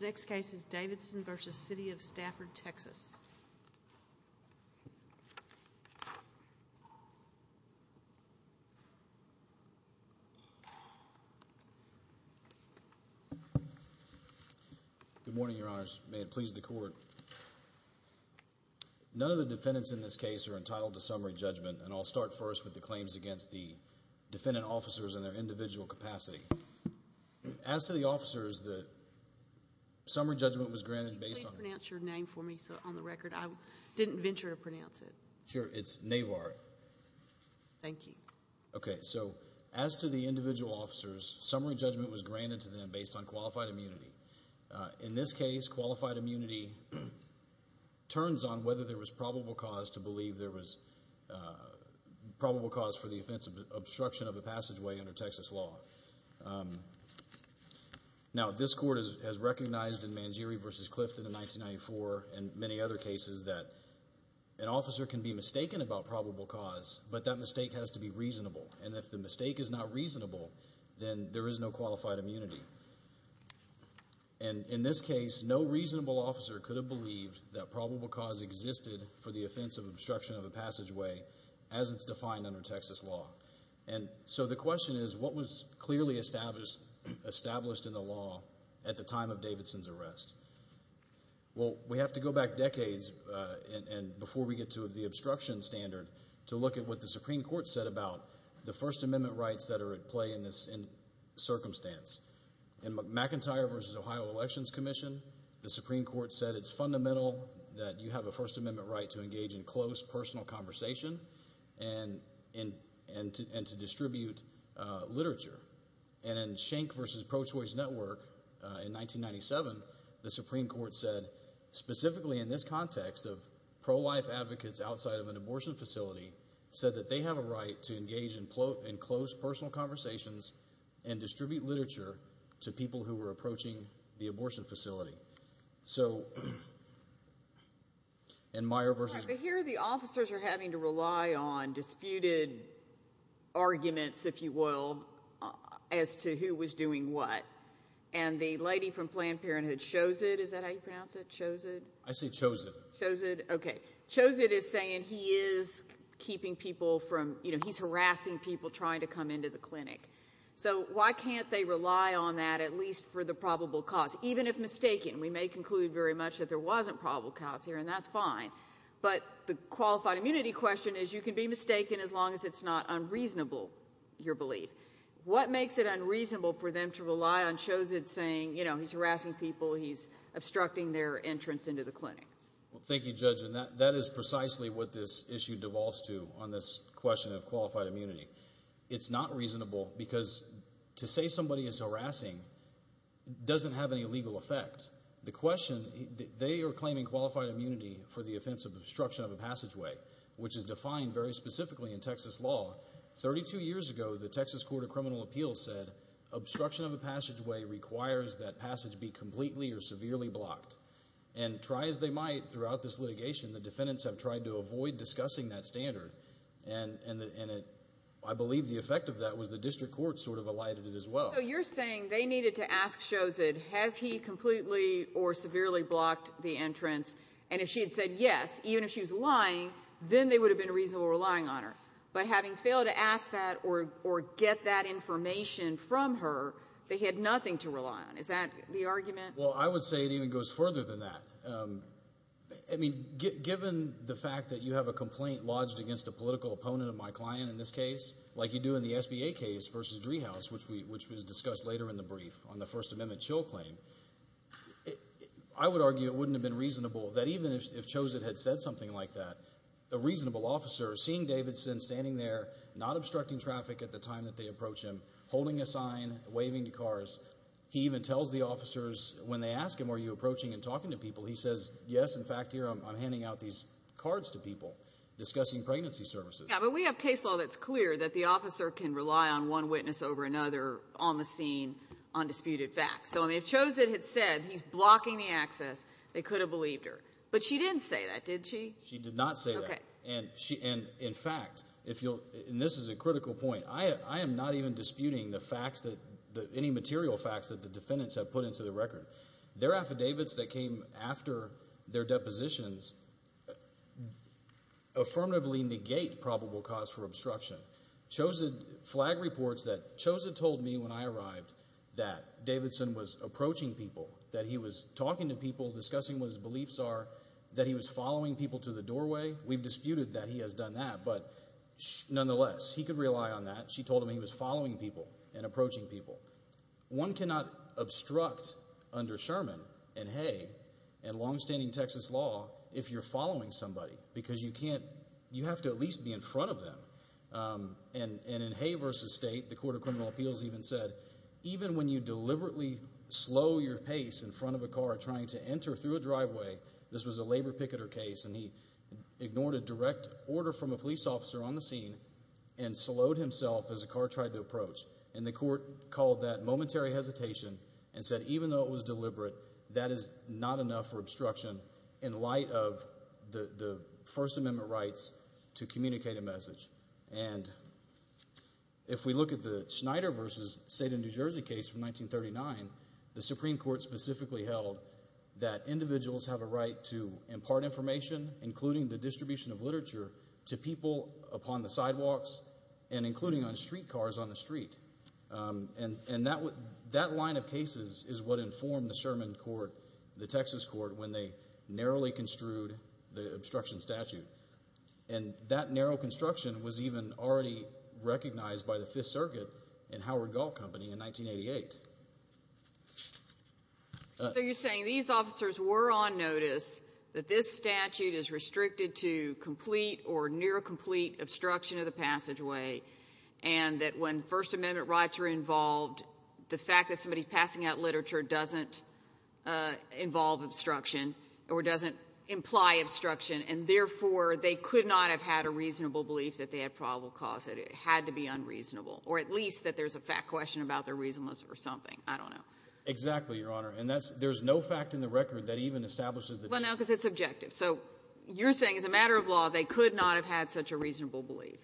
The next case is Davidson v. City of Stafford, Texas. Good morning, Your Honors, and may it please the Court, none of the defendants in this case are entitled to summary judgment, and I'll start first with the claims against the defendant officers and their individual capacity. As to the officers, the summary judgment was granted based on qualified immunity. In this case, qualified immunity turns on whether there was probable cause to believe there was probable cause for the offense of obstruction of a passageway under Texas law. Now, this Court has recognized in Mangieri v. Clifton in 1994 and many other cases that an officer can be mistaken about probable cause, but that mistake has to be reasonable, and if the mistake is not reasonable, then there is no qualified immunity. And in this case, no reasonable officer could have believed that probable cause existed for the offense of obstruction of a passageway as it's defined under Texas law. And so the question is, what was clearly established in the law at the time of Davidson's arrest? Well, we have to go back decades, and before we get to the obstruction standard, to look at what the Supreme Court said about the First Amendment rights that are at play in this circumstance. In McIntyre v. Ohio Elections Commission, the Supreme Court said it's fundamental that you have a First Amendment right to engage in close, personal conversation and to distribute literature. And in Schenck v. Pro Choice Network in 1997, the Supreme Court said, specifically in this context of pro-life advocates outside of an abortion facility, said that they have a right to engage in close, personal conversations and distribute literature to people who were approaching the abortion facility. So in Meyer v. But here the officers are having to rely on disputed arguments, if you will, as to who was doing what. And the lady from Planned Parenthood, Chosid, is that how you pronounce it? Chosid? I say Chosid. Chosid? Okay. Chosid is saying he is keeping people from, you know, he's harassing people trying to come into the clinic. So why can't they rely on that, at least for the probable cause? Even if mistaken. We may conclude very much that there wasn't probable cause here, and that's fine. But the qualified immunity question is, you can be mistaken as long as it's not unreasonable, your belief. What makes it unreasonable for them to rely on Chosid saying, you know, he's harassing people, he's obstructing their entrance into the clinic? Well, thank you, Judge, and that is precisely what this issue devolves to on this question of qualified immunity. It's not reasonable because to say somebody is harassing doesn't have any legal effect. The question, they are claiming qualified immunity for the offense of obstruction of a passageway, which is defined very specifically in Texas law. Thirty-two years ago, the Texas Court of Criminal Appeals said obstruction of a passageway requires that passage be completely or severely blocked. And try as they might throughout this litigation, the defendants have tried to avoid discussing that standard, and I believe the effect of that was the district court sort of elided it as well. So you're saying they needed to ask Chosid, has he completely or severely blocked the entrance? And if she had said yes, even if she was lying, then they would have been reasonably relying on her. But having failed to ask that or get that information from her, they had nothing to rely on. Is that the argument? Well, I would say it even goes further than that. I mean, given the fact that you have a complaint lodged against a political opponent of my client in this case, like you do in the SBA case versus Driehaus, which was discussed later in the brief on the First Amendment chill claim, I would argue it wouldn't have been reasonable that even if Chosid had said something like that, a reasonable officer seeing Davidson standing there, not obstructing traffic at the time that they approach him, holding a sign, waving to cars, he even tells the officers when they ask him, are you approaching and talking to people? He says, yes, in fact, here I'm handing out these cards to people discussing pregnancy services. Yeah, but we have case law that's clear that the officer can rely on one witness over another on the scene on disputed facts. So if Chosid had said he's blocking the access, they could have believed her. But she didn't say that, did she? She did not say that. And in fact, and this is a critical point, I am not even disputing the facts, any material facts that the defendants have put into the record. Their affidavits that came after their depositions affirmatively negate probable cause for obstruction. Chosid flag reports that Chosid told me when I arrived that Davidson was approaching people, that he was talking to people, discussing what his beliefs are, that he was following people to the doorway. We've disputed that he has done that, but nonetheless, he could rely on that. She told him he was following people and approaching people. One cannot obstruct under Sherman and Hay and longstanding Texas law if you're following somebody because you can't, you have to at least be in front of them. And in Hay v. State, the Court of Criminal Appeals even said, even when you deliberately slow your pace in front of a car trying to enter through a driveway, this was a labor picketer case, and he ignored a direct order from a police officer on the scene and slowed himself as a car tried to approach. And the court called that momentary hesitation and said, even though it was deliberate, that is not enough for obstruction in light of the First Amendment rights to communicate a message. And if we look at the Schneider v. State of New Jersey case from 1939, the Supreme Court specifically held that individuals have a right to impart information, including the distribution of literature, to people upon the sidewalks and including on streetcars on the street. And that line of cases is what informed the Sherman court, the Texas court, when they narrowly construed the obstruction statute. And that narrow construction was even already recognized by the Fifth Circuit and Howard Gall Company in 1988. So you're saying these officers were on notice that this statute is restricted to complete or near-complete obstruction of the passageway, and that when First Amendment rights are involved, the fact that somebody's passing out literature doesn't involve obstruction or doesn't imply obstruction, and therefore, they could not have had a reasonable belief that they had probable cause, that it had to be unreasonable, or at least that there's a fact question about their reasonableness or something. I don't know. Exactly, Your Honor. And there's no fact in the record that even establishes that. Well, no, because it's objective. So you're saying, as a matter of law, they could not have had such a reasonable belief.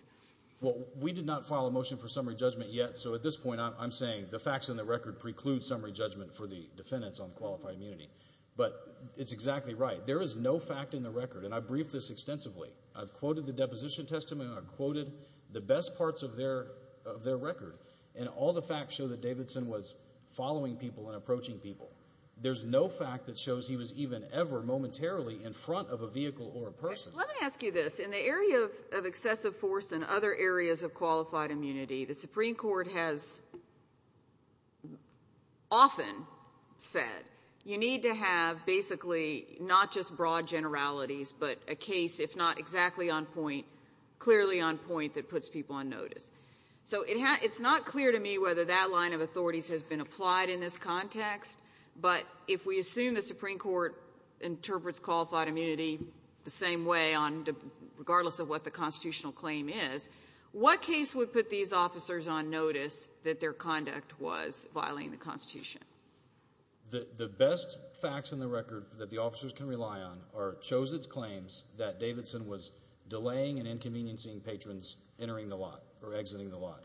Well, we did not file a motion for summary judgment yet. So at this point, I'm saying the facts in the record preclude summary judgment for the defendants on qualified immunity. But it's exactly right. There is no fact in the record. And I've briefed this extensively. I've quoted the Deposition Testament. I've quoted the best parts of their record. And all the facts show that Davidson was following people and approaching people. There's no fact that shows he was even ever momentarily in front of a vehicle or a person. Let me ask you this. In the area of excessive force and other areas of qualified immunity, the Supreme Court has often said, you need to have basically not just broad generalities, but a case, if not exactly on point, clearly on point that puts people on notice. So it's not clear to me whether that line of authorities has been applied in this context. But if we assume the Supreme Court interprets qualified immunity the same way, regardless of what the constitutional claim is, what case would put these officers on notice that their conduct was violating the Constitution? The best facts in the record that the officers can rely on shows its claims are exiting the lot.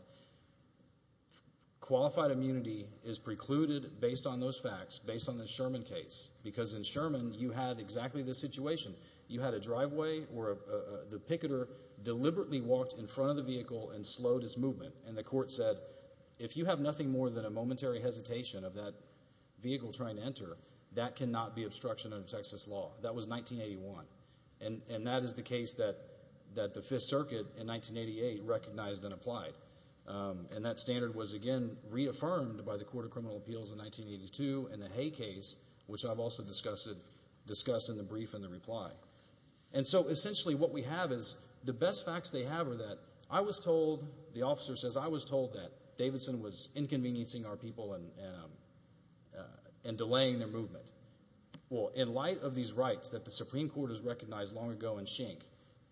Qualified immunity is precluded based on those facts, based on the Sherman case. Because in Sherman, you had exactly this situation. You had a driveway where the picketer deliberately walked in front of the vehicle and slowed his movement. And the court said, if you have nothing more than a momentary hesitation of that vehicle trying to enter, that cannot be obstruction of Texas law. That was 1981. And that is the case that the Fifth Circuit in 1988 recognized and applied. And that standard was, again, reaffirmed by the Court of Criminal Appeals in 1982 and the Hay case, which I've also discussed in the brief and the reply. And so essentially, what we have is, the best facts they have are that I was told, the officer says, I was told that Davidson was inconveniencing our people and delaying their movement. Well, in light of these rights that the Supreme Court has recognized long ago in Schenck,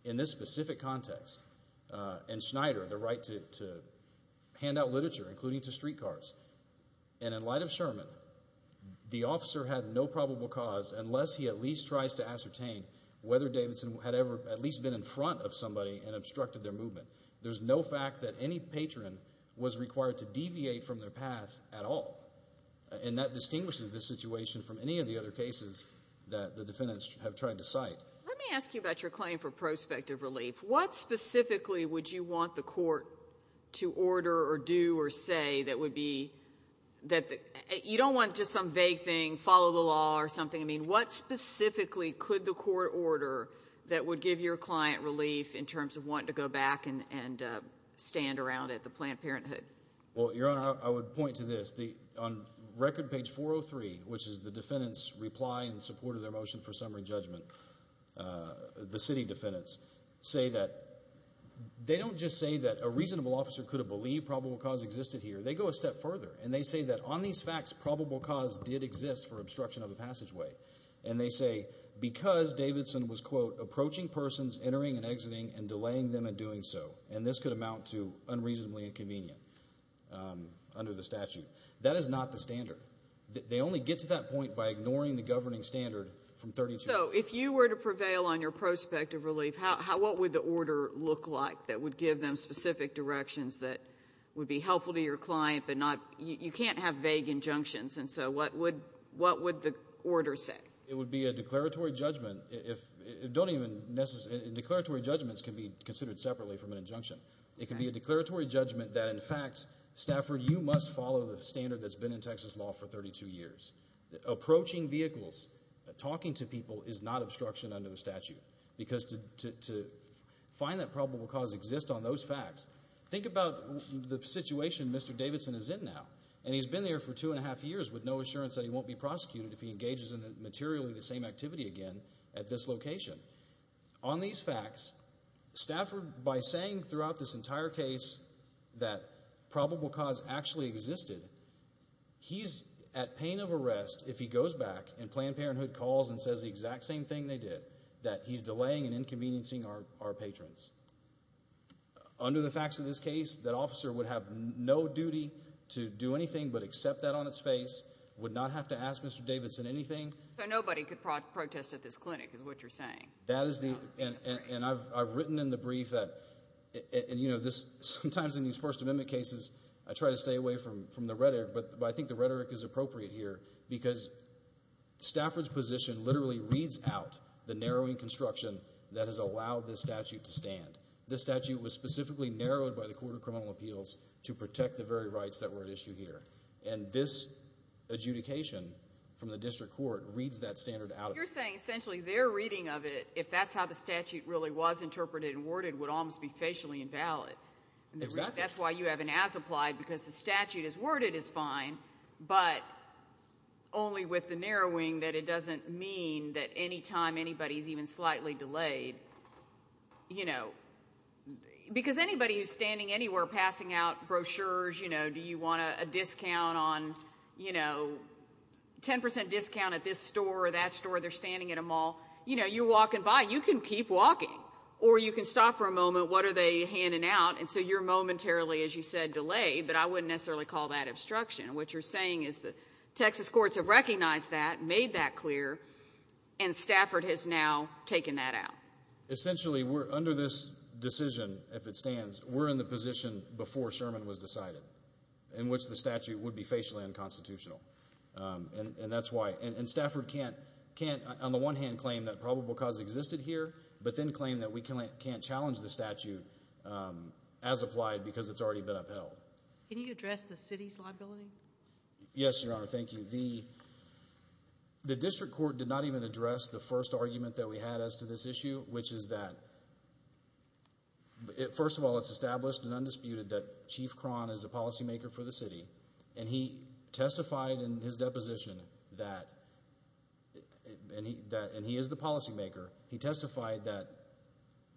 in this specific context, and Schneider, the right to hand out literature, including to streetcars, and in light of Sherman, the officer had no probable cause, unless he at least tries to ascertain whether Davidson had ever at least been in front of somebody and obstructed their movement. There's no fact that any patron was required to deviate from their path at all. And that distinguishes this situation from any of the other cases that the defendants have tried to cite. Let me ask you about your claim for prospective relief. What specifically would you want the court to order or do or say that would be that the, you don't want just some vague thing, follow the law or something. I mean, what specifically could the court order that would give your client relief in terms of wanting to go back and stand around at the Planned Parenthood? Well, Your Honor, I would point to this. On record page 403, which is the defendant's reply in support of their motion for summary judgment, the city defendants say that, they don't just say that a reasonable officer could have believed probable cause existed here. They go a step further. And they say that on these facts, probable cause did exist for obstruction of the passageway. And they say, because Davidson was, quote, approaching persons, entering and exiting, and delaying them in doing so, and this could amount to under the statute. That is not the standard. They only get to that point by ignoring the governing standard from 32. So if you were to prevail on your prospective relief, how, what would the order look like that would give them specific directions that would be helpful to your client, but not, you can't have vague injunctions. And so what would, what would the order say? It would be a declaratory judgment. If, don't even, declaratory judgments can be considered separately from an injunction. It can be a declaratory judgment that, in fact, Stafford, you must follow the standard that's been in Texas law for 32 years. Approaching vehicles, talking to people, is not obstruction under the statute. Because to, to, to find that probable cause exists on those facts, think about the situation Mr. Davidson is in now, and he's been there for two and a half years with no assurance that he won't be prosecuted if he engages in materially the same activity again at this location. On these facts, Stafford, by saying throughout this entire case that probable cause actually existed, he's at pain of arrest if he goes back and Planned Parenthood calls and says the exact same thing they did, that he's delaying and inconveniencing our, our patrons. Under the facts of this case, that officer would have no duty to do anything but accept that on its face, would not have to ask Mr. Davidson anything. So nobody could protest at this clinic, is what you're saying? That is the, and, and I've, I've written in the brief that, and you know, this, sometimes in these First Amendment cases, I try to stay away from, from the rhetoric, but, but I think the rhetoric is appropriate here because Stafford's position literally reads out the narrowing construction that has allowed this statute to stand. This statute was specifically narrowed by the Court of Criminal Appeals to protect the very rights that were at issue here. And this adjudication from the district court reads that standard out. You're saying essentially their reading of it, if that's how the statute really was interpreted and worded, would almost be facially invalid. Exactly. That's why you have an as-applied, because the statute is worded as fine, but only with the narrowing that it doesn't mean that anytime anybody's even slightly delayed, you know, because anybody who's standing anywhere passing out brochures, you know, do you want a discount on, you know, 10% discount at this store or that store, they're standing at a mall, you know, you're walking by, you can keep walking or you can stop for a moment, what are they handing out? And so you're momentarily, as you said, delayed, but I wouldn't necessarily call that obstruction. What you're saying is the Texas courts have recognized that, made that clear, and Stafford has now taken that out. Essentially we're under this decision, if it stands, we're in the position before Sherman was decided, in which the statute would be facially unconstitutional, and that's why, and Stafford can't, on the one hand, claim that probable cause existed here, but then claim that we can't challenge the statute as applied because it's already been upheld. Can you address the city's liability? Yes, Your Honor, thank you. The district court did not even address the first argument that we had as to this issue, which is that, first of all, it's established and undisputed that Chief Cron is the policymaker for the city, and he testified in his deposition that, and he is the policymaker, he testified that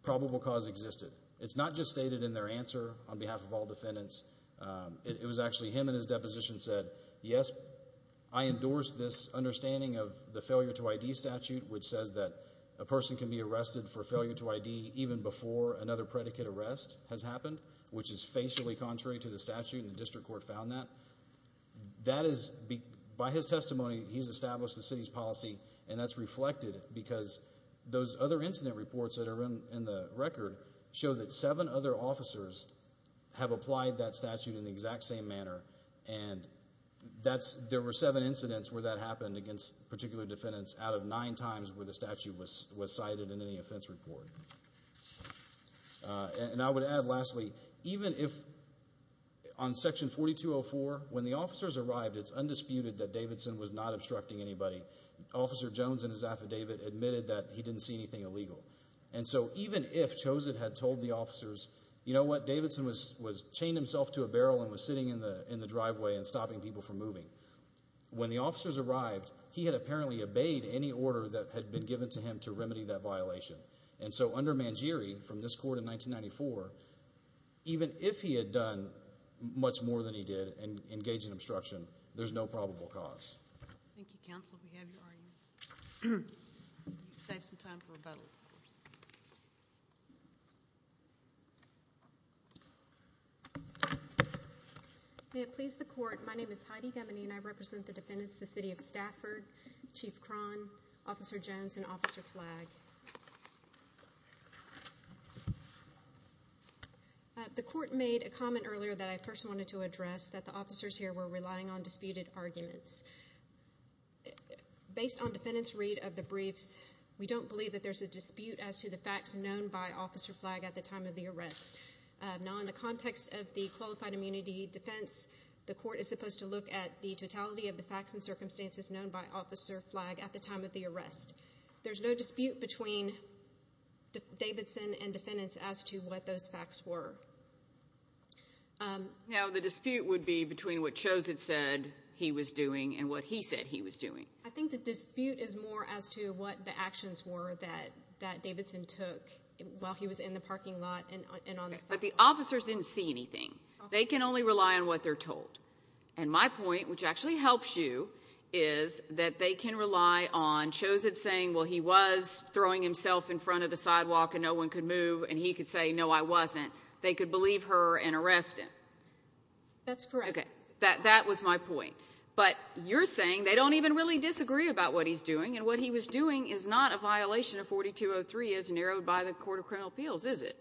probable cause existed. It's not just stated in their answer on behalf of all defendants, it was actually him in his deposition said, yes, I endorse this understanding of the person can be arrested for failure to ID even before another predicate arrest has happened, which is facially contrary to the statute, and the district court found that. That is, by his testimony, he's established the city's policy, and that's reflected because those other incident reports that are in the record show that seven other officers have applied that statute in the exact same manner, and there were seven incidents where that happened against particular defendants out of nine times where the statute was cited in any offense report. And I would add, lastly, even if, on section 4204, when the officers arrived, it's undisputed that Davidson was not obstructing anybody. Officer Jones in his affidavit admitted that he didn't see anything illegal. And so, even if Chosett had told the officers, you know what, Davidson was chained himself to a barrel and was sitting in the driveway and stopping people from moving. When the officers arrived, he had apparently obeyed any order that had been given to him to remedy that violation. And so, under Mangieri, from this court in 1994, even if he had done much more than he did and engaged in obstruction, there's no probable cause. Thank you, counsel. We have your arguments. You can save some time for rebuttal, of course. May it please the court. My name is Heidi Gemmini, and I represent the defendants, the city of Stafford, Chief Krohn, Officer Jones, and Officer Flagg. The court made a comment earlier that I first wanted to address, that the officers here were relying on disputed arguments. Based on defendant's read of the briefs, we don't believe that there's a dispute as to the facts known by Officer Flagg at the time of the arrest. Now, in the context of the qualified immunity defense, the court is supposed to look at the totality of the facts and circumstances known by Officer Flagg at the time of the arrest. There's no dispute between Davidson and defendants as to what those facts were. Now, the dispute would be between what Choset said he was doing and what he said he was doing. I think the dispute is more as to what the actions were that Davidson took while he was in the parking lot and on the sidewalk. But the officers didn't see anything. They can only rely on what they're told. And my point, which actually helps you, is that they can rely on Choset saying, well, he was throwing himself in front of the sidewalk and no one could move, and he could say, no, I wasn't. They could believe her and arrest him. That's correct. Okay. That was my point. But you're saying they don't even really disagree about what he's doing, and what he was doing is not a violation of 4203 as narrowed by the Court of Criminal Appeals, is it?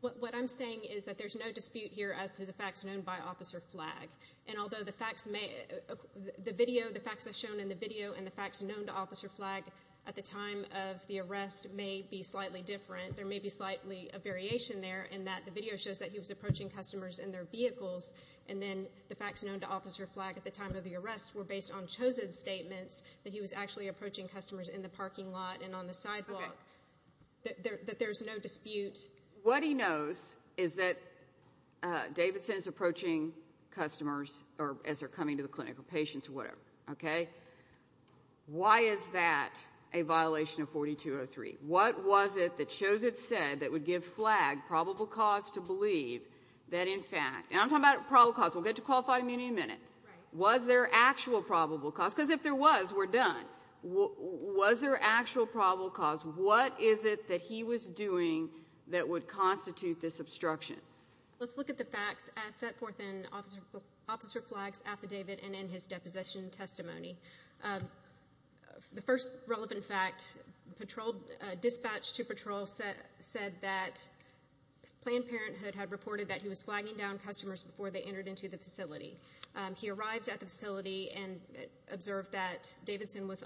What I'm saying is that there's no dispute here as to the facts known by Officer Flagg. And although the facts may—the video, the facts as shown in the video and the facts known to Officer Flagg at the time of the arrest may be slightly different, there may be slightly a variation there in that the video shows that he was approaching customers in their vehicles, and then the facts known to Officer Flagg at the time of the arrest were based on Choset's statements that he was actually approaching customers in the parking lot and on the sidewalk. That there's no dispute. What he knows is that Davidson is approaching customers as they're coming to the clinic, or patients, or whatever, okay? Why is that a violation of 4203? What was it that Choset said that would give Flagg probable cause to believe that, in fact—and I'm talking about probable cause, we'll get to qualified immunity in a minute. Right. Was there actual probable cause? Because if there was, we're done. Was there actual probable cause? What is it that he was doing that would constitute this obstruction? Let's look at the facts as set forth in Officer Flagg's affidavit and in his deposition testimony. The first relevant fact, dispatch to patrol said that Planned Parenthood had reported that he was flagging down customers before they entered into the facility. He arrived at the facility and observed that Davidson was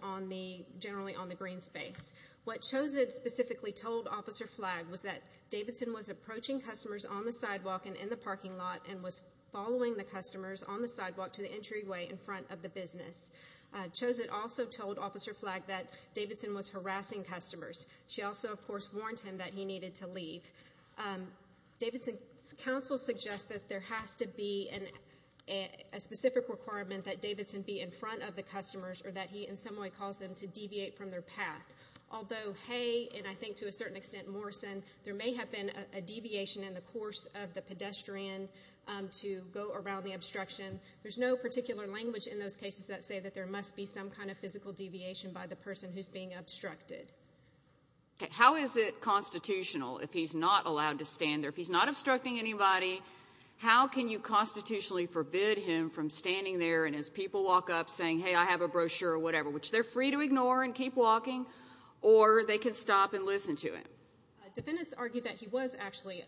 generally on the green space. What Choset specifically told Officer Flagg was that Davidson was approaching customers on the sidewalk and in the parking lot and was following the customers on the sidewalk to the entryway in front of the business. Choset also told Officer Flagg that Davidson was harassing customers. Davidson's counsel suggests that there has to be a specific requirement that Davidson be in front of the customers or that he in some way cause them to deviate from their path. Although, hey, and I think to a certain extent, Morrison, there may have been a deviation in the course of the pedestrian to go around the obstruction, there's no particular language in those cases that say that there must be some kind of physical deviation by the person who's being obstructed. How is it constitutional if he's not allowed to stand there? If he's not obstructing anybody, how can you constitutionally forbid him from standing there and as people walk up saying, hey, I have a brochure or whatever, which they're free to ignore and keep walking, or they can stop and listen to him? Defendants argue that he was actually,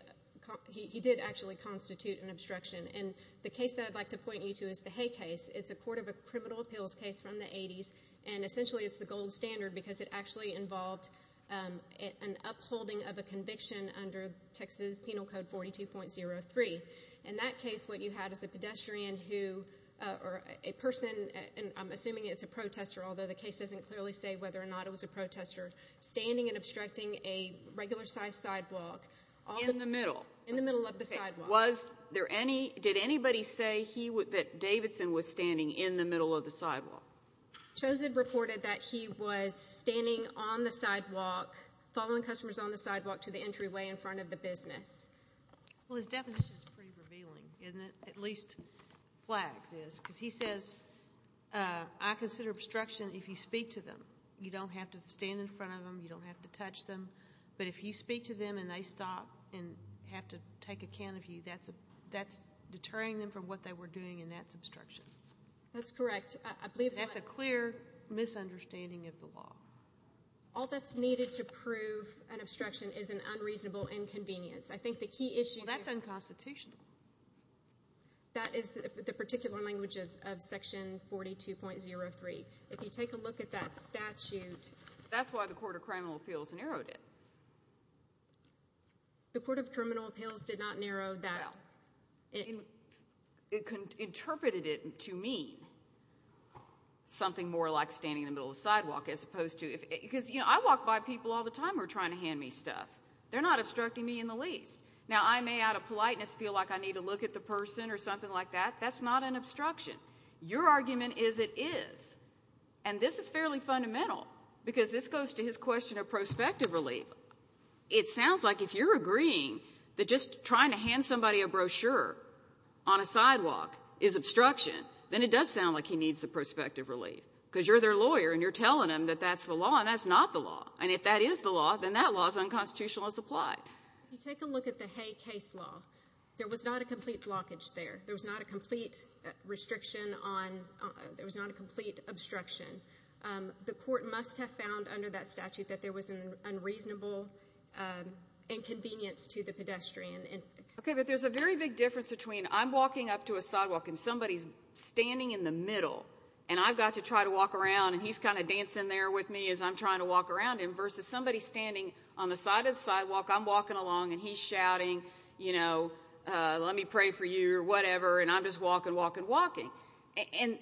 he did actually constitute an obstruction. And the case that I'd like to point you to is the Hay case. It's a court of a criminal appeals case from the 80s. And essentially, it's the gold standard because it actually involved an upholding of a conviction under Texas Penal Code 42.03. In that case, what you had is a pedestrian who, or a person, and I'm assuming it's a protester, although the case doesn't clearly say whether or not it was a protester, standing and obstructing a regular-sized sidewalk. In the middle. In the middle of the sidewalk. Was there any, did anybody say that Davidson was standing in the middle of the sidewalk? Chosid reported that he was standing on the sidewalk, following customers on the sidewalk to the entryway in front of the business. Well, his definition is pretty revealing, isn't it? At least Flagg's is. Because he says, I consider obstruction if you speak to them. You don't have to stand in front of them. You don't have to touch them. But if you speak to them and they stop and have to take account of you, that's deterring them from what they were doing and that's obstruction. That's correct. That's a clear misunderstanding of the law. All that's needed to prove an obstruction is an unreasonable inconvenience. I think the key issue. Well, that's unconstitutional. That is the particular language of Section 42.03. If you take a look at that statute. That's why the Court of Criminal Appeals narrowed it. The Court of Criminal Appeals did not narrow that. It interpreted it to mean something more like standing in the middle of the sidewalk as opposed to, because I walk by people all the time who are trying to hand me stuff. They're not obstructing me in the least. Now I may out of politeness feel like I need to look at the person or something like that. That's not an obstruction. Your argument is it is. And this is fairly fundamental because this goes to his question of prospective relief. It sounds like if you're agreeing that just trying to hand somebody a brochure on a sidewalk is obstruction, then it does sound like he needs the prospective relief because you're their lawyer and you're telling them that that's the law and that's not the law. And if that is the law, then that law is unconstitutional as applied. You take a look at the Hay case law. There was not a complete blockage there. There was not a complete restriction on, there was not a complete obstruction. The court must have found under that statute that there was an unreasonable inconvenience to the pedestrian. Okay, but there's a very big difference between I'm walking up to a sidewalk and somebody's standing in the middle and I've got to try to walk around and he's kind of dancing there with me as I'm trying to walk around him versus somebody standing on the side of the sidewalk. I'm walking along and he's shouting, you know, let me pray for you or whatever. And I'm just walking, walking, walking. And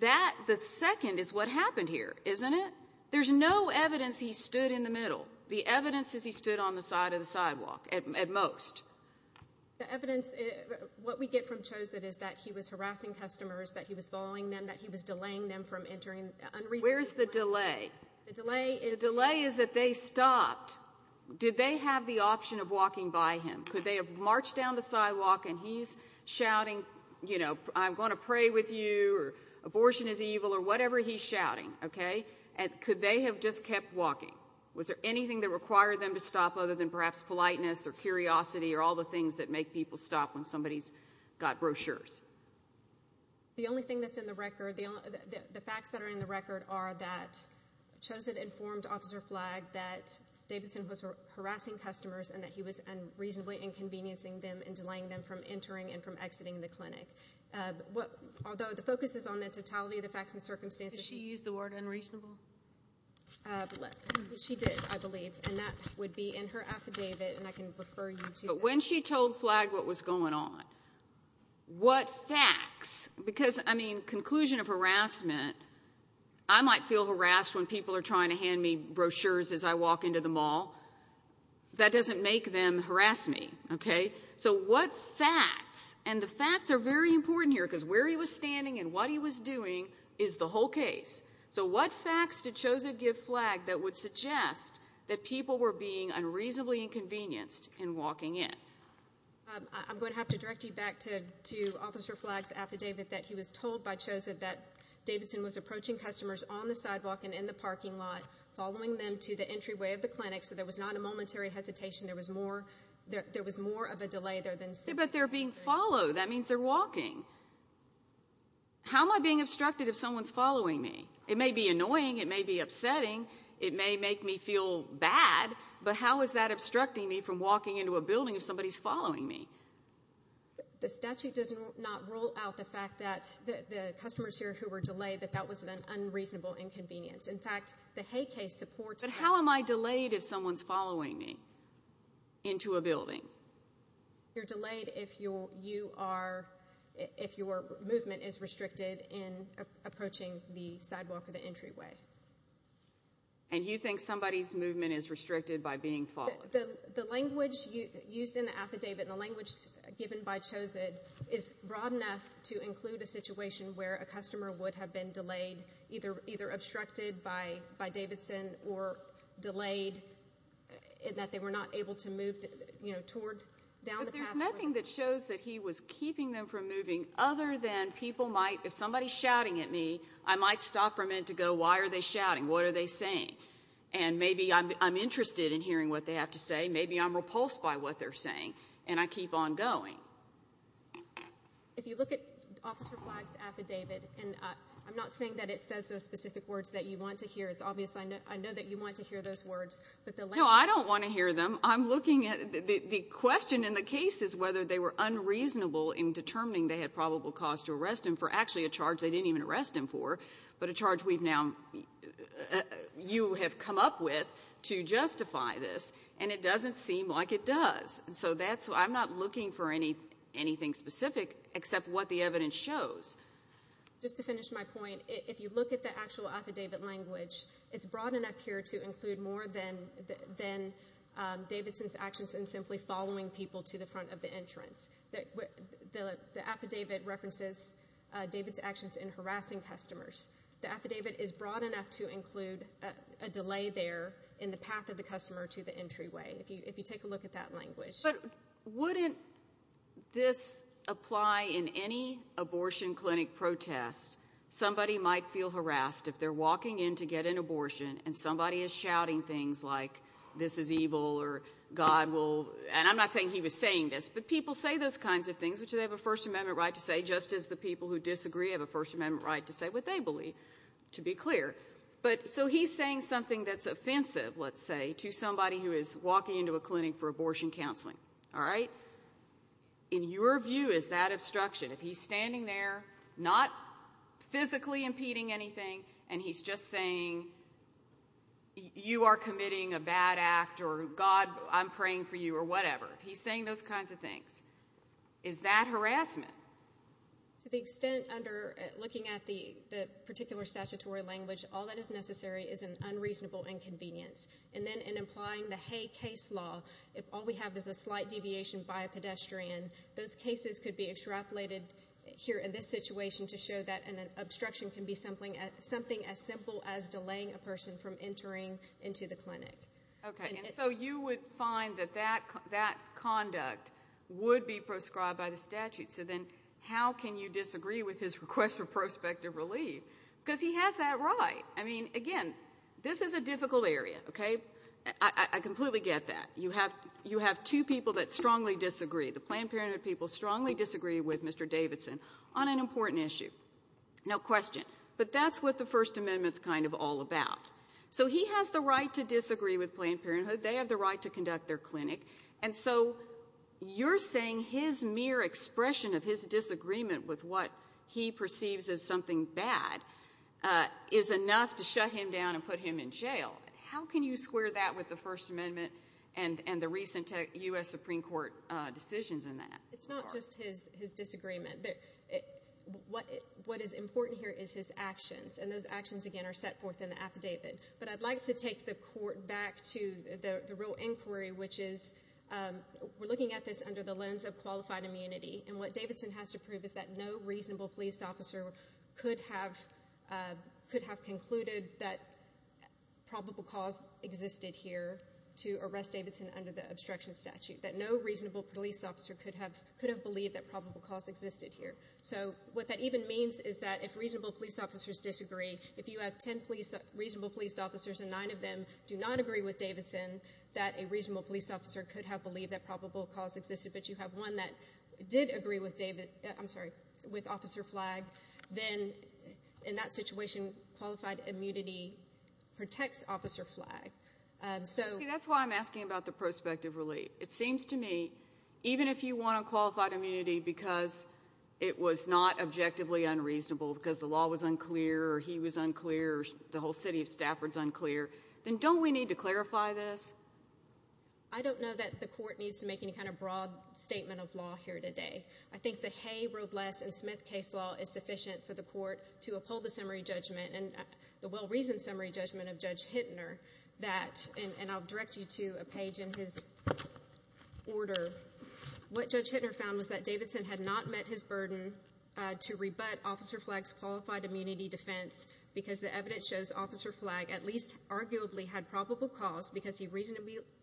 that, the second is what happened here, isn't it? There's no evidence he stood in the middle. The evidence is he stood on the side of the sidewalk at most. The evidence, what we get from Chosett is that he was harassing customers, that he was following them, that he was delaying them from entering unreasonable places. Where's the delay? The delay is... The delay is that they stopped. Did they have the option of walking by him? Could they have marched down the sidewalk and he's shouting, you know, I'm going to pray with you or abortion is evil or whatever he's shouting, okay, and could they have just kept walking? Was there anything that required them to stop other than perhaps politeness or curiosity or all the things that make people stop when somebody's got brochures? The only thing that's in the record, the facts that are in the record are that Chosett informed Officer Flagg that Davidson was harassing customers and that he was unreasonably inconveniencing them and delaying them from entering and from exiting the clinic, although the focus is on the totality of the facts and circumstances. Did she use the word unreasonable? She did, I believe, and that would be in her affidavit and I can refer you to that. But when she told Flagg what was going on, what facts, because, I mean, conclusion of harassment, I might feel harassed when people are trying to hand me brochures as I walk into the mall. That doesn't make them harass me, okay? So what facts, and the facts are very important here because where he was standing and what he was doing is the whole case. So what facts did Chosett give Flagg that would suggest that people were being unreasonably inconvenienced in walking in? I'm going to have to direct you back to Officer Flagg's affidavit that he was told by Chosett that Davidson was approaching customers on the sidewalk and in the parking lot, following them to the entryway of the clinic so there was not a momentary hesitation, there was more, there was more of a delay there than... But they're being followed, that means they're walking. How am I being obstructed if someone's following me? It may be annoying, it may be upsetting, it may make me feel bad, but how is that obstructing me from walking into a building if somebody's following me? The statute does not rule out the fact that the customers here who were delayed, that that was an unreasonable inconvenience. In fact, the Hay case supports that. But how am I delayed if someone's following me into a building? You're delayed if you're, you are, if your movement is restricted in approaching the sidewalk or the entryway. And you think somebody's movement is restricted by being followed? The language used in the affidavit and the language given by Chosett is broad enough to include a situation where a customer would have been delayed, either obstructed by Davidson or delayed in that they were not able to move, you know, toward, down the pathway. But there's nothing that shows that he was keeping them from moving other than people might, if somebody's shouting at me, I might stop for a minute to go, why are they shouting? What are they saying? And maybe I'm interested in hearing what they have to say, maybe I'm repulsed by what they're saying and I keep on going. If you look at Officer Flagg's affidavit, and I'm not saying that it says the specific words that you want to hear, it's obvious I know that you want to hear those words, but the language. No, I don't want to hear them. I'm looking at, the question in the case is whether they were unreasonable in determining they had probable cause to arrest him for actually a charge they didn't even arrest him for, but a charge we've now, you have come up with to justify this. And it doesn't seem like it does. So I'm not looking for anything specific except what the evidence shows. Just to finish my point, if you look at the actual affidavit language, it's broad enough here to include more than Davidson's actions in simply following people to the front of the entrance. The affidavit references David's actions in harassing customers. The affidavit is broad enough to include a delay there in the path of the customer to the entryway. If you take a look at that language. But wouldn't this apply in any abortion clinic protest? Somebody might feel harassed if they're walking in to get an abortion and somebody is shouting things like, this is evil, or God will, and I'm not saying he was saying this, but people say those kinds of things, which they have a First Amendment right to say, just as the people who disagree have a First Amendment right to say what they believe, to be clear. So he's saying something that's offensive, let's say, to somebody who is walking into a clinic for abortion counseling, all right? In your view, is that obstruction, if he's standing there, not physically impeding anything, and he's just saying, you are committing a bad act, or God, I'm praying for you, or whatever. He's saying those kinds of things. Is that harassment? To the extent under looking at the particular statutory language, all that is necessary is an unreasonable inconvenience. And then in applying the Hay case law, if all we have is a slight deviation by a pedestrian, those cases could be extrapolated here in this situation to show that an obstruction can be something as simple as delaying a person from entering into the clinic. Okay. And so you would find that that conduct would be prescribed by the statute. So then how can you disagree with his request for prospective relief? Because he has that right. I mean, again, this is a difficult area, okay? I completely get that. You have two people that strongly disagree. The Planned Parenthood people strongly disagree with Mr. Davidson on an important issue. No question. But that's what the First Amendment's kind of all about. So he has the right to disagree with Planned Parenthood. They have the right to conduct their clinic. And so you're saying his mere expression of his disagreement with what he perceives as something bad is enough to shut him down and put him in jail. How can you square that with the First Amendment and the recent U.S. Supreme Court decisions in that? It's not just his disagreement. What is important here is his actions. And those actions, again, are set forth in the affidavit. But I'd like to take the court back to the real inquiry, which is, we're looking at this under the lens of qualified immunity. And what Davidson has to prove is that no reasonable police officer could have concluded that probable cause existed here to arrest Davidson under the obstruction statute. That no reasonable police officer could have believed that probable cause existed here. So what that even means is that if reasonable police officers disagree, if you have 10 reasonable police officers and nine of them do not agree with Davidson, that a reasonable police officer could have believed that probable cause existed, but you have one that did agree with Officer Flagg, then in that situation, qualified immunity protects Officer Flagg. That's why I'm asking about the prospective relief. It seems to me, even if you want a qualified immunity because it was not objectively unreasonable, because the law was unclear, or he was unclear, or the whole city of Stafford is unclear, then don't we need to clarify this? I don't know that the court needs to make any kind of broad statement of law here today. I think the Hay, Robles, and Smith case law is sufficient for the court to uphold the summary judgment and the well-reasoned summary judgment of Judge Hittner that, and I'll direct you to a page in his order, what Judge Hittner found was that Davidson had not met his burden to rebut Officer Flagg's qualified immunity defense because the evidence shows Officer Flagg at least arguably had probable cause because he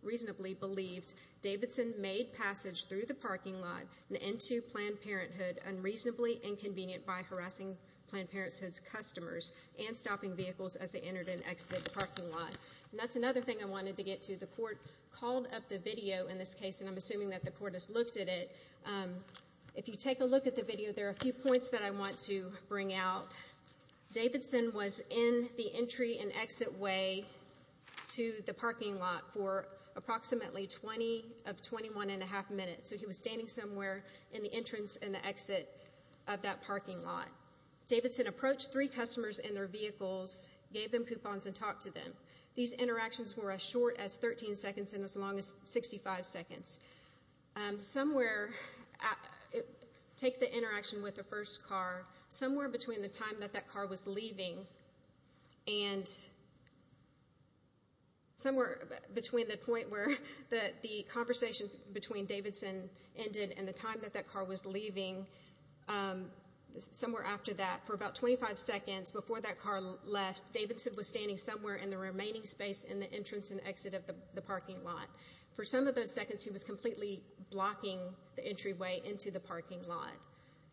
reasonably believed Davidson made passage through the parking lot and into Planned Parenthood unreasonably inconvenient by harassing Planned Parenthood's customers and stopping vehicles as they entered and exited the parking lot. That's another thing I wanted to get to. The court called up the video in this case, and I'm assuming that the court has looked at it. If you take a look at the video, there are a few points that I want to bring out. Davidson was in the entry and exit way to the parking lot for approximately 20 of 21 and a half minutes. So he was standing somewhere in the entrance and the exit of that parking lot. Davidson approached three customers in their vehicles, gave them coupons, and talked to them. These interactions were as short as 13 seconds and as long as 65 seconds. Somewhere, take the interaction with the first car, somewhere between the time that that car was leaving and somewhere between the point where the conversation between Davidson ended and the time that that car was leaving, somewhere after that, for about 25 seconds before that car left, Davidson was standing somewhere in the remaining space in the entrance and exit of the parking lot. For some of those seconds, he was completely blocking the entryway into the parking lot.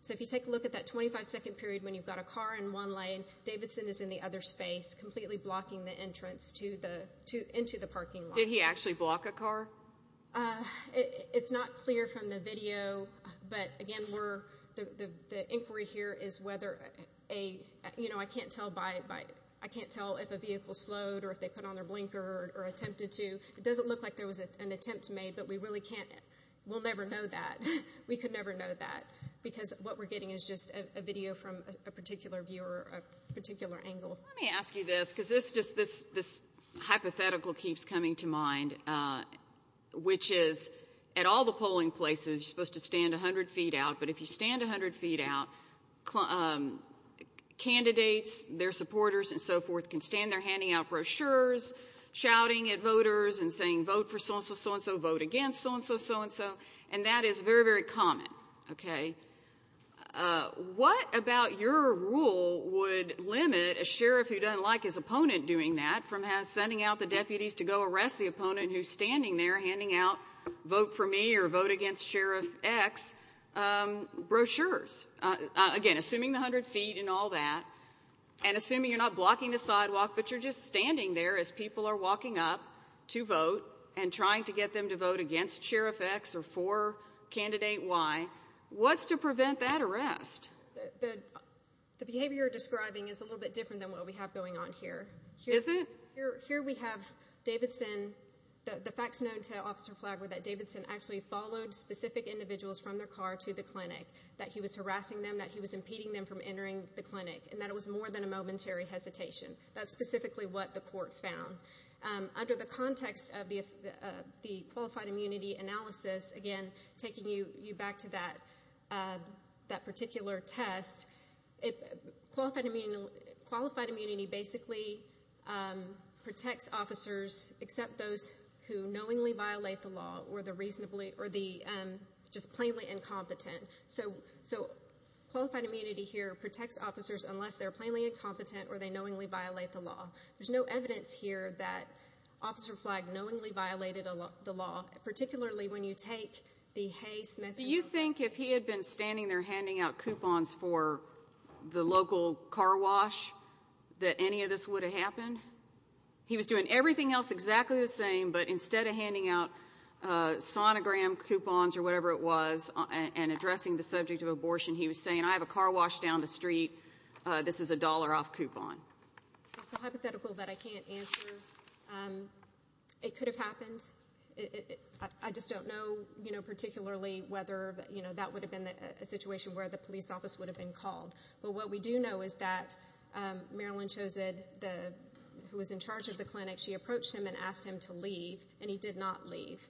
So if you take a look at that 25-second period when you've got a car in one lane, Davidson is in the other space, completely blocking the entrance into the parking lot. Did he actually block a car? It's not clear from the video, but again, the inquiry here is whether a— I can't tell if a vehicle slowed or if they put on their blinker or attempted to. It doesn't look like there was an attempt made, but we really can't—we'll never know that. We could never know that because what we're getting is just a video from a particular viewer, a particular angle. Let me ask you this because this hypothetical keeps coming to mind, which is at all the polling places, you're supposed to stand 100 feet out, but if you stand 100 feet out, candidates, their supporters, and so forth, can stand there handing out brochures, shouting at voters and saying vote for so-and-so, so-and-so, vote against so-and-so, so-and-so, and that is very, very common, okay? What about your rule would limit a sheriff who doesn't like his opponent doing that from sending out the deputies to go arrest the opponent who's standing there handing out vote for me or vote against Sheriff X brochures? Again, assuming the 100 feet and all that, and assuming you're not blocking the sidewalk, but you're just standing there as people are walking up to vote and trying to get them to vote against Sheriff X or for candidate Y, what's to prevent that arrest? The behavior you're describing is a little bit different than what we have going on here. Is it? Here we have Davidson—the facts known to Officer Flagler that Davidson actually followed specific individuals from their car to the clinic, that he was harassing them, that he was impeding them from entering the clinic, and that it was more than a momentary hesitation. That's specifically what the court found. Under the context of the qualified immunity analysis, again, taking you back to that particular test, qualified immunity basically protects officers except those who knowingly violate the law or the just plainly incompetent. So qualified immunity here protects officers unless they're plainly incompetent or they knowingly violate the law. There's no evidence here that Officer Flag knowingly violated the law, particularly when you take the Hay-Smith analysis. Do you think if he had been standing there handing out coupons for the local car wash that any of this would have happened? He was doing everything else exactly the same, but instead of handing out sonogram coupons or whatever it was and addressing the subject of abortion, he was saying, I have a car wash down the street, this is a dollar off coupon. It's a hypothetical that I can't answer. It could have happened. I just don't know, you know, particularly whether, you know, that would have been a situation where the police office would have been called. But what we do know is that Marilyn Chosid, who was in charge of the clinic, she approached him and asked him to leave, and he did not leave.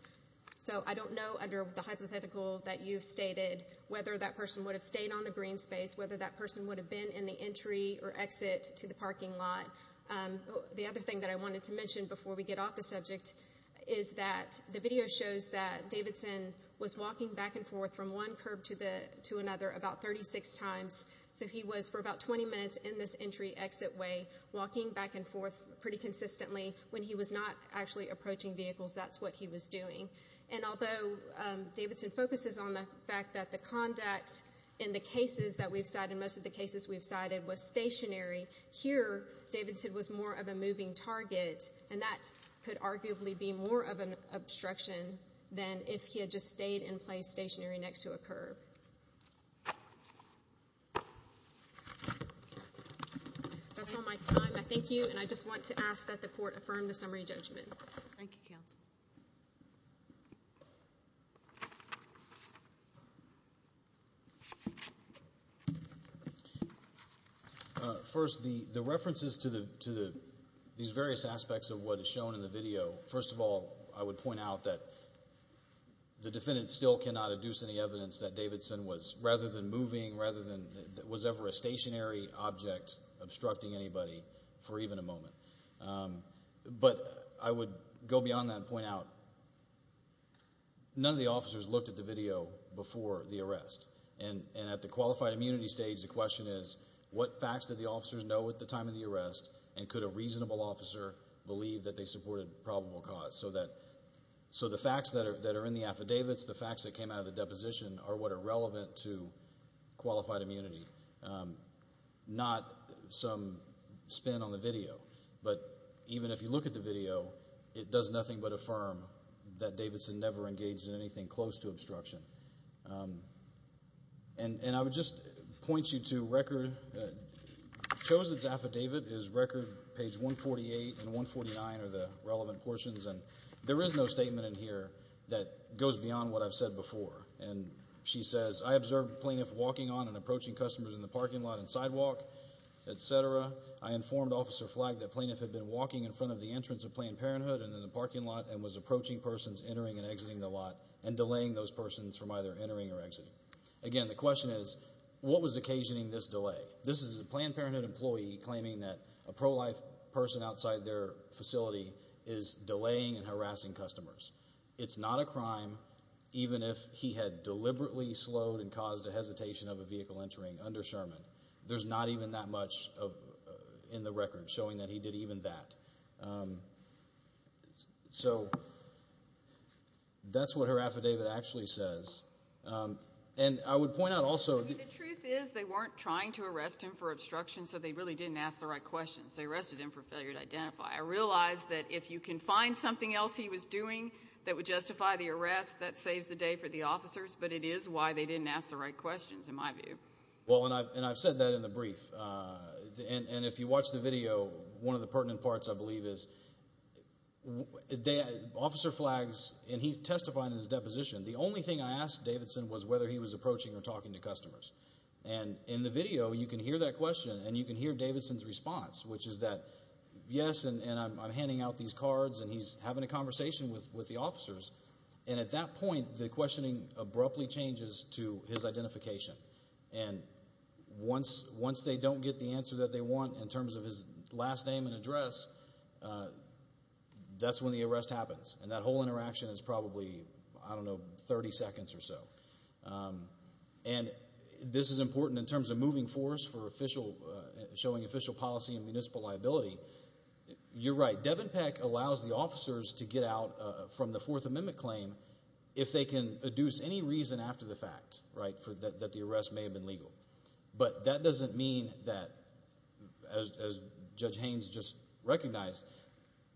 So I don't know under the hypothetical that you've stated whether that person would have stayed on the green space, whether that person would have been in the entry or exit to the parking lot. The other thing that I wanted to mention before we get off the subject is that the video shows that Davidson was walking back and forth from one curb to another about 36 times. So he was for about 20 minutes in this entry-exit way walking back and forth pretty consistently. When he was not actually approaching vehicles, that's what he was doing. And although Davidson focuses on the fact that the conduct in the cases that we've cited, most of the cases we've cited, was stationary, here Davidson was more of a moving target, and that could arguably be more of an obstruction than if he had just stayed in place stationary next to a curb. That's all my time. I thank you, and I just want to ask that the Court affirm the summary judgment. Thank you, counsel. First, the references to these various aspects of what is shown in the video, first of all, I would point out that the defendant still cannot adduce any evidence that Davidson was rather than moving, rather than was ever a stationary object obstructing anybody for even a moment. But I would go beyond that and point out none of the officers looked at the video before the arrest, and at the qualified immunity stage the question is what facts did the officers know at the time of the arrest and could a reasonable officer believe that they supported probable cause? So the facts that are in the affidavits, the facts that came out of the deposition, are what are relevant to qualified immunity, not some spin on the video. But even if you look at the video, it does nothing but affirm that Davidson never engaged in anything close to obstruction. And I would just point you to record. Chosen's affidavit is record page 148 and 149 are the relevant portions, and there is no statement in here that goes beyond what I've said before. And she says, I observed the plaintiff walking on and approaching customers in the parking lot and sidewalk, etc. I informed Officer Flagg that the plaintiff had been walking in front of the entrance of Planned Parenthood and in the parking lot and was approaching persons entering and exiting the lot and delaying those persons from either entering or exiting. Again, the question is what was occasioning this delay? This is a Planned Parenthood employee claiming that a pro-life person outside their facility is delaying and harassing customers. It's not a crime. Even if he had deliberately slowed and caused a hesitation of a vehicle entering under Sherman, there's not even that much in the record showing that he did even that. So that's what her affidavit actually says. And I would point out also the truth is they weren't trying to arrest him for obstruction, so they really didn't ask the right questions. They arrested him for failure to identify. I realize that if you can find something else he was doing that would justify the arrest, that saves the day for the officers, but it is why they didn't ask the right questions in my view. Well, and I've said that in the brief. And if you watch the video, one of the pertinent parts, I believe, is Officer Flagg, and he testified in his deposition, the only thing I asked Davidson was whether he was approaching or talking to customers. And in the video, you can hear that question and you can hear Davidson's response, which is that, yes, and I'm handing out these cards and he's having a conversation with the officers. And at that point, the questioning abruptly changes to his identification. And once they don't get the answer that they want in terms of his last name and address, that's when the arrest happens. And that whole interaction is probably, I don't know, 30 seconds or so. And this is important in terms of moving force for showing official policy and municipal liability. You're right. Devon Peck allows the officers to get out from the Fourth Amendment claim if they can adduce any reason after the fact, right, that the arrest may have been legal. But that doesn't mean that, as Judge Haynes just recognized,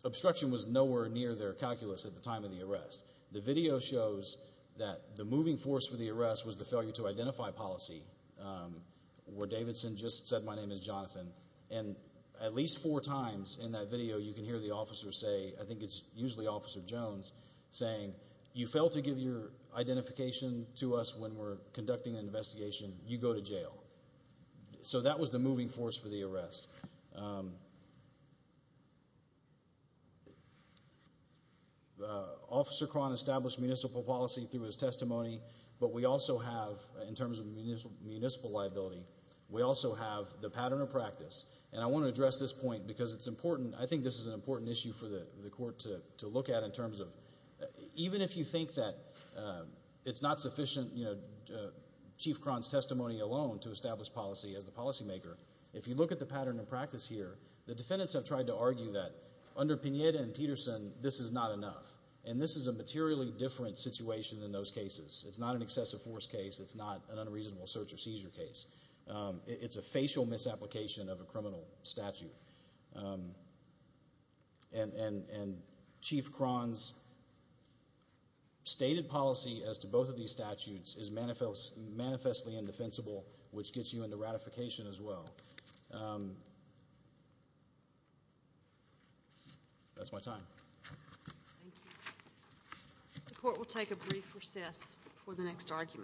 obstruction was nowhere near their calculus at the time of the arrest. The video shows that the moving force for the arrest was the failure to identify policy, where Davidson just said, my name is Jonathan. And at least four times in that video, you can hear the officer say, I think it's usually Officer Jones, saying, you fail to give your identification to us when we're conducting an investigation, you go to jail. Officer Cron established municipal policy through his testimony. But we also have, in terms of municipal liability, we also have the pattern of practice. And I want to address this point because it's important. I think this is an important issue for the court to look at in terms of even if you think that it's not sufficient, Chief Cron's testimony alone to establish policy as the policymaker, if you look at the pattern of practice here, the defendants have tried to argue that under Pineda and Peterson, this is not enough. And this is a materially different situation than those cases. It's not an excessive force case. It's not an unreasonable search or seizure case. It's a facial misapplication of a criminal statute. And Chief Cron's stated policy as to both of these statutes is manifestly indefensible, which gets you into ratification as well. That's my time. Thank you. The court will take a brief recess for the next argument.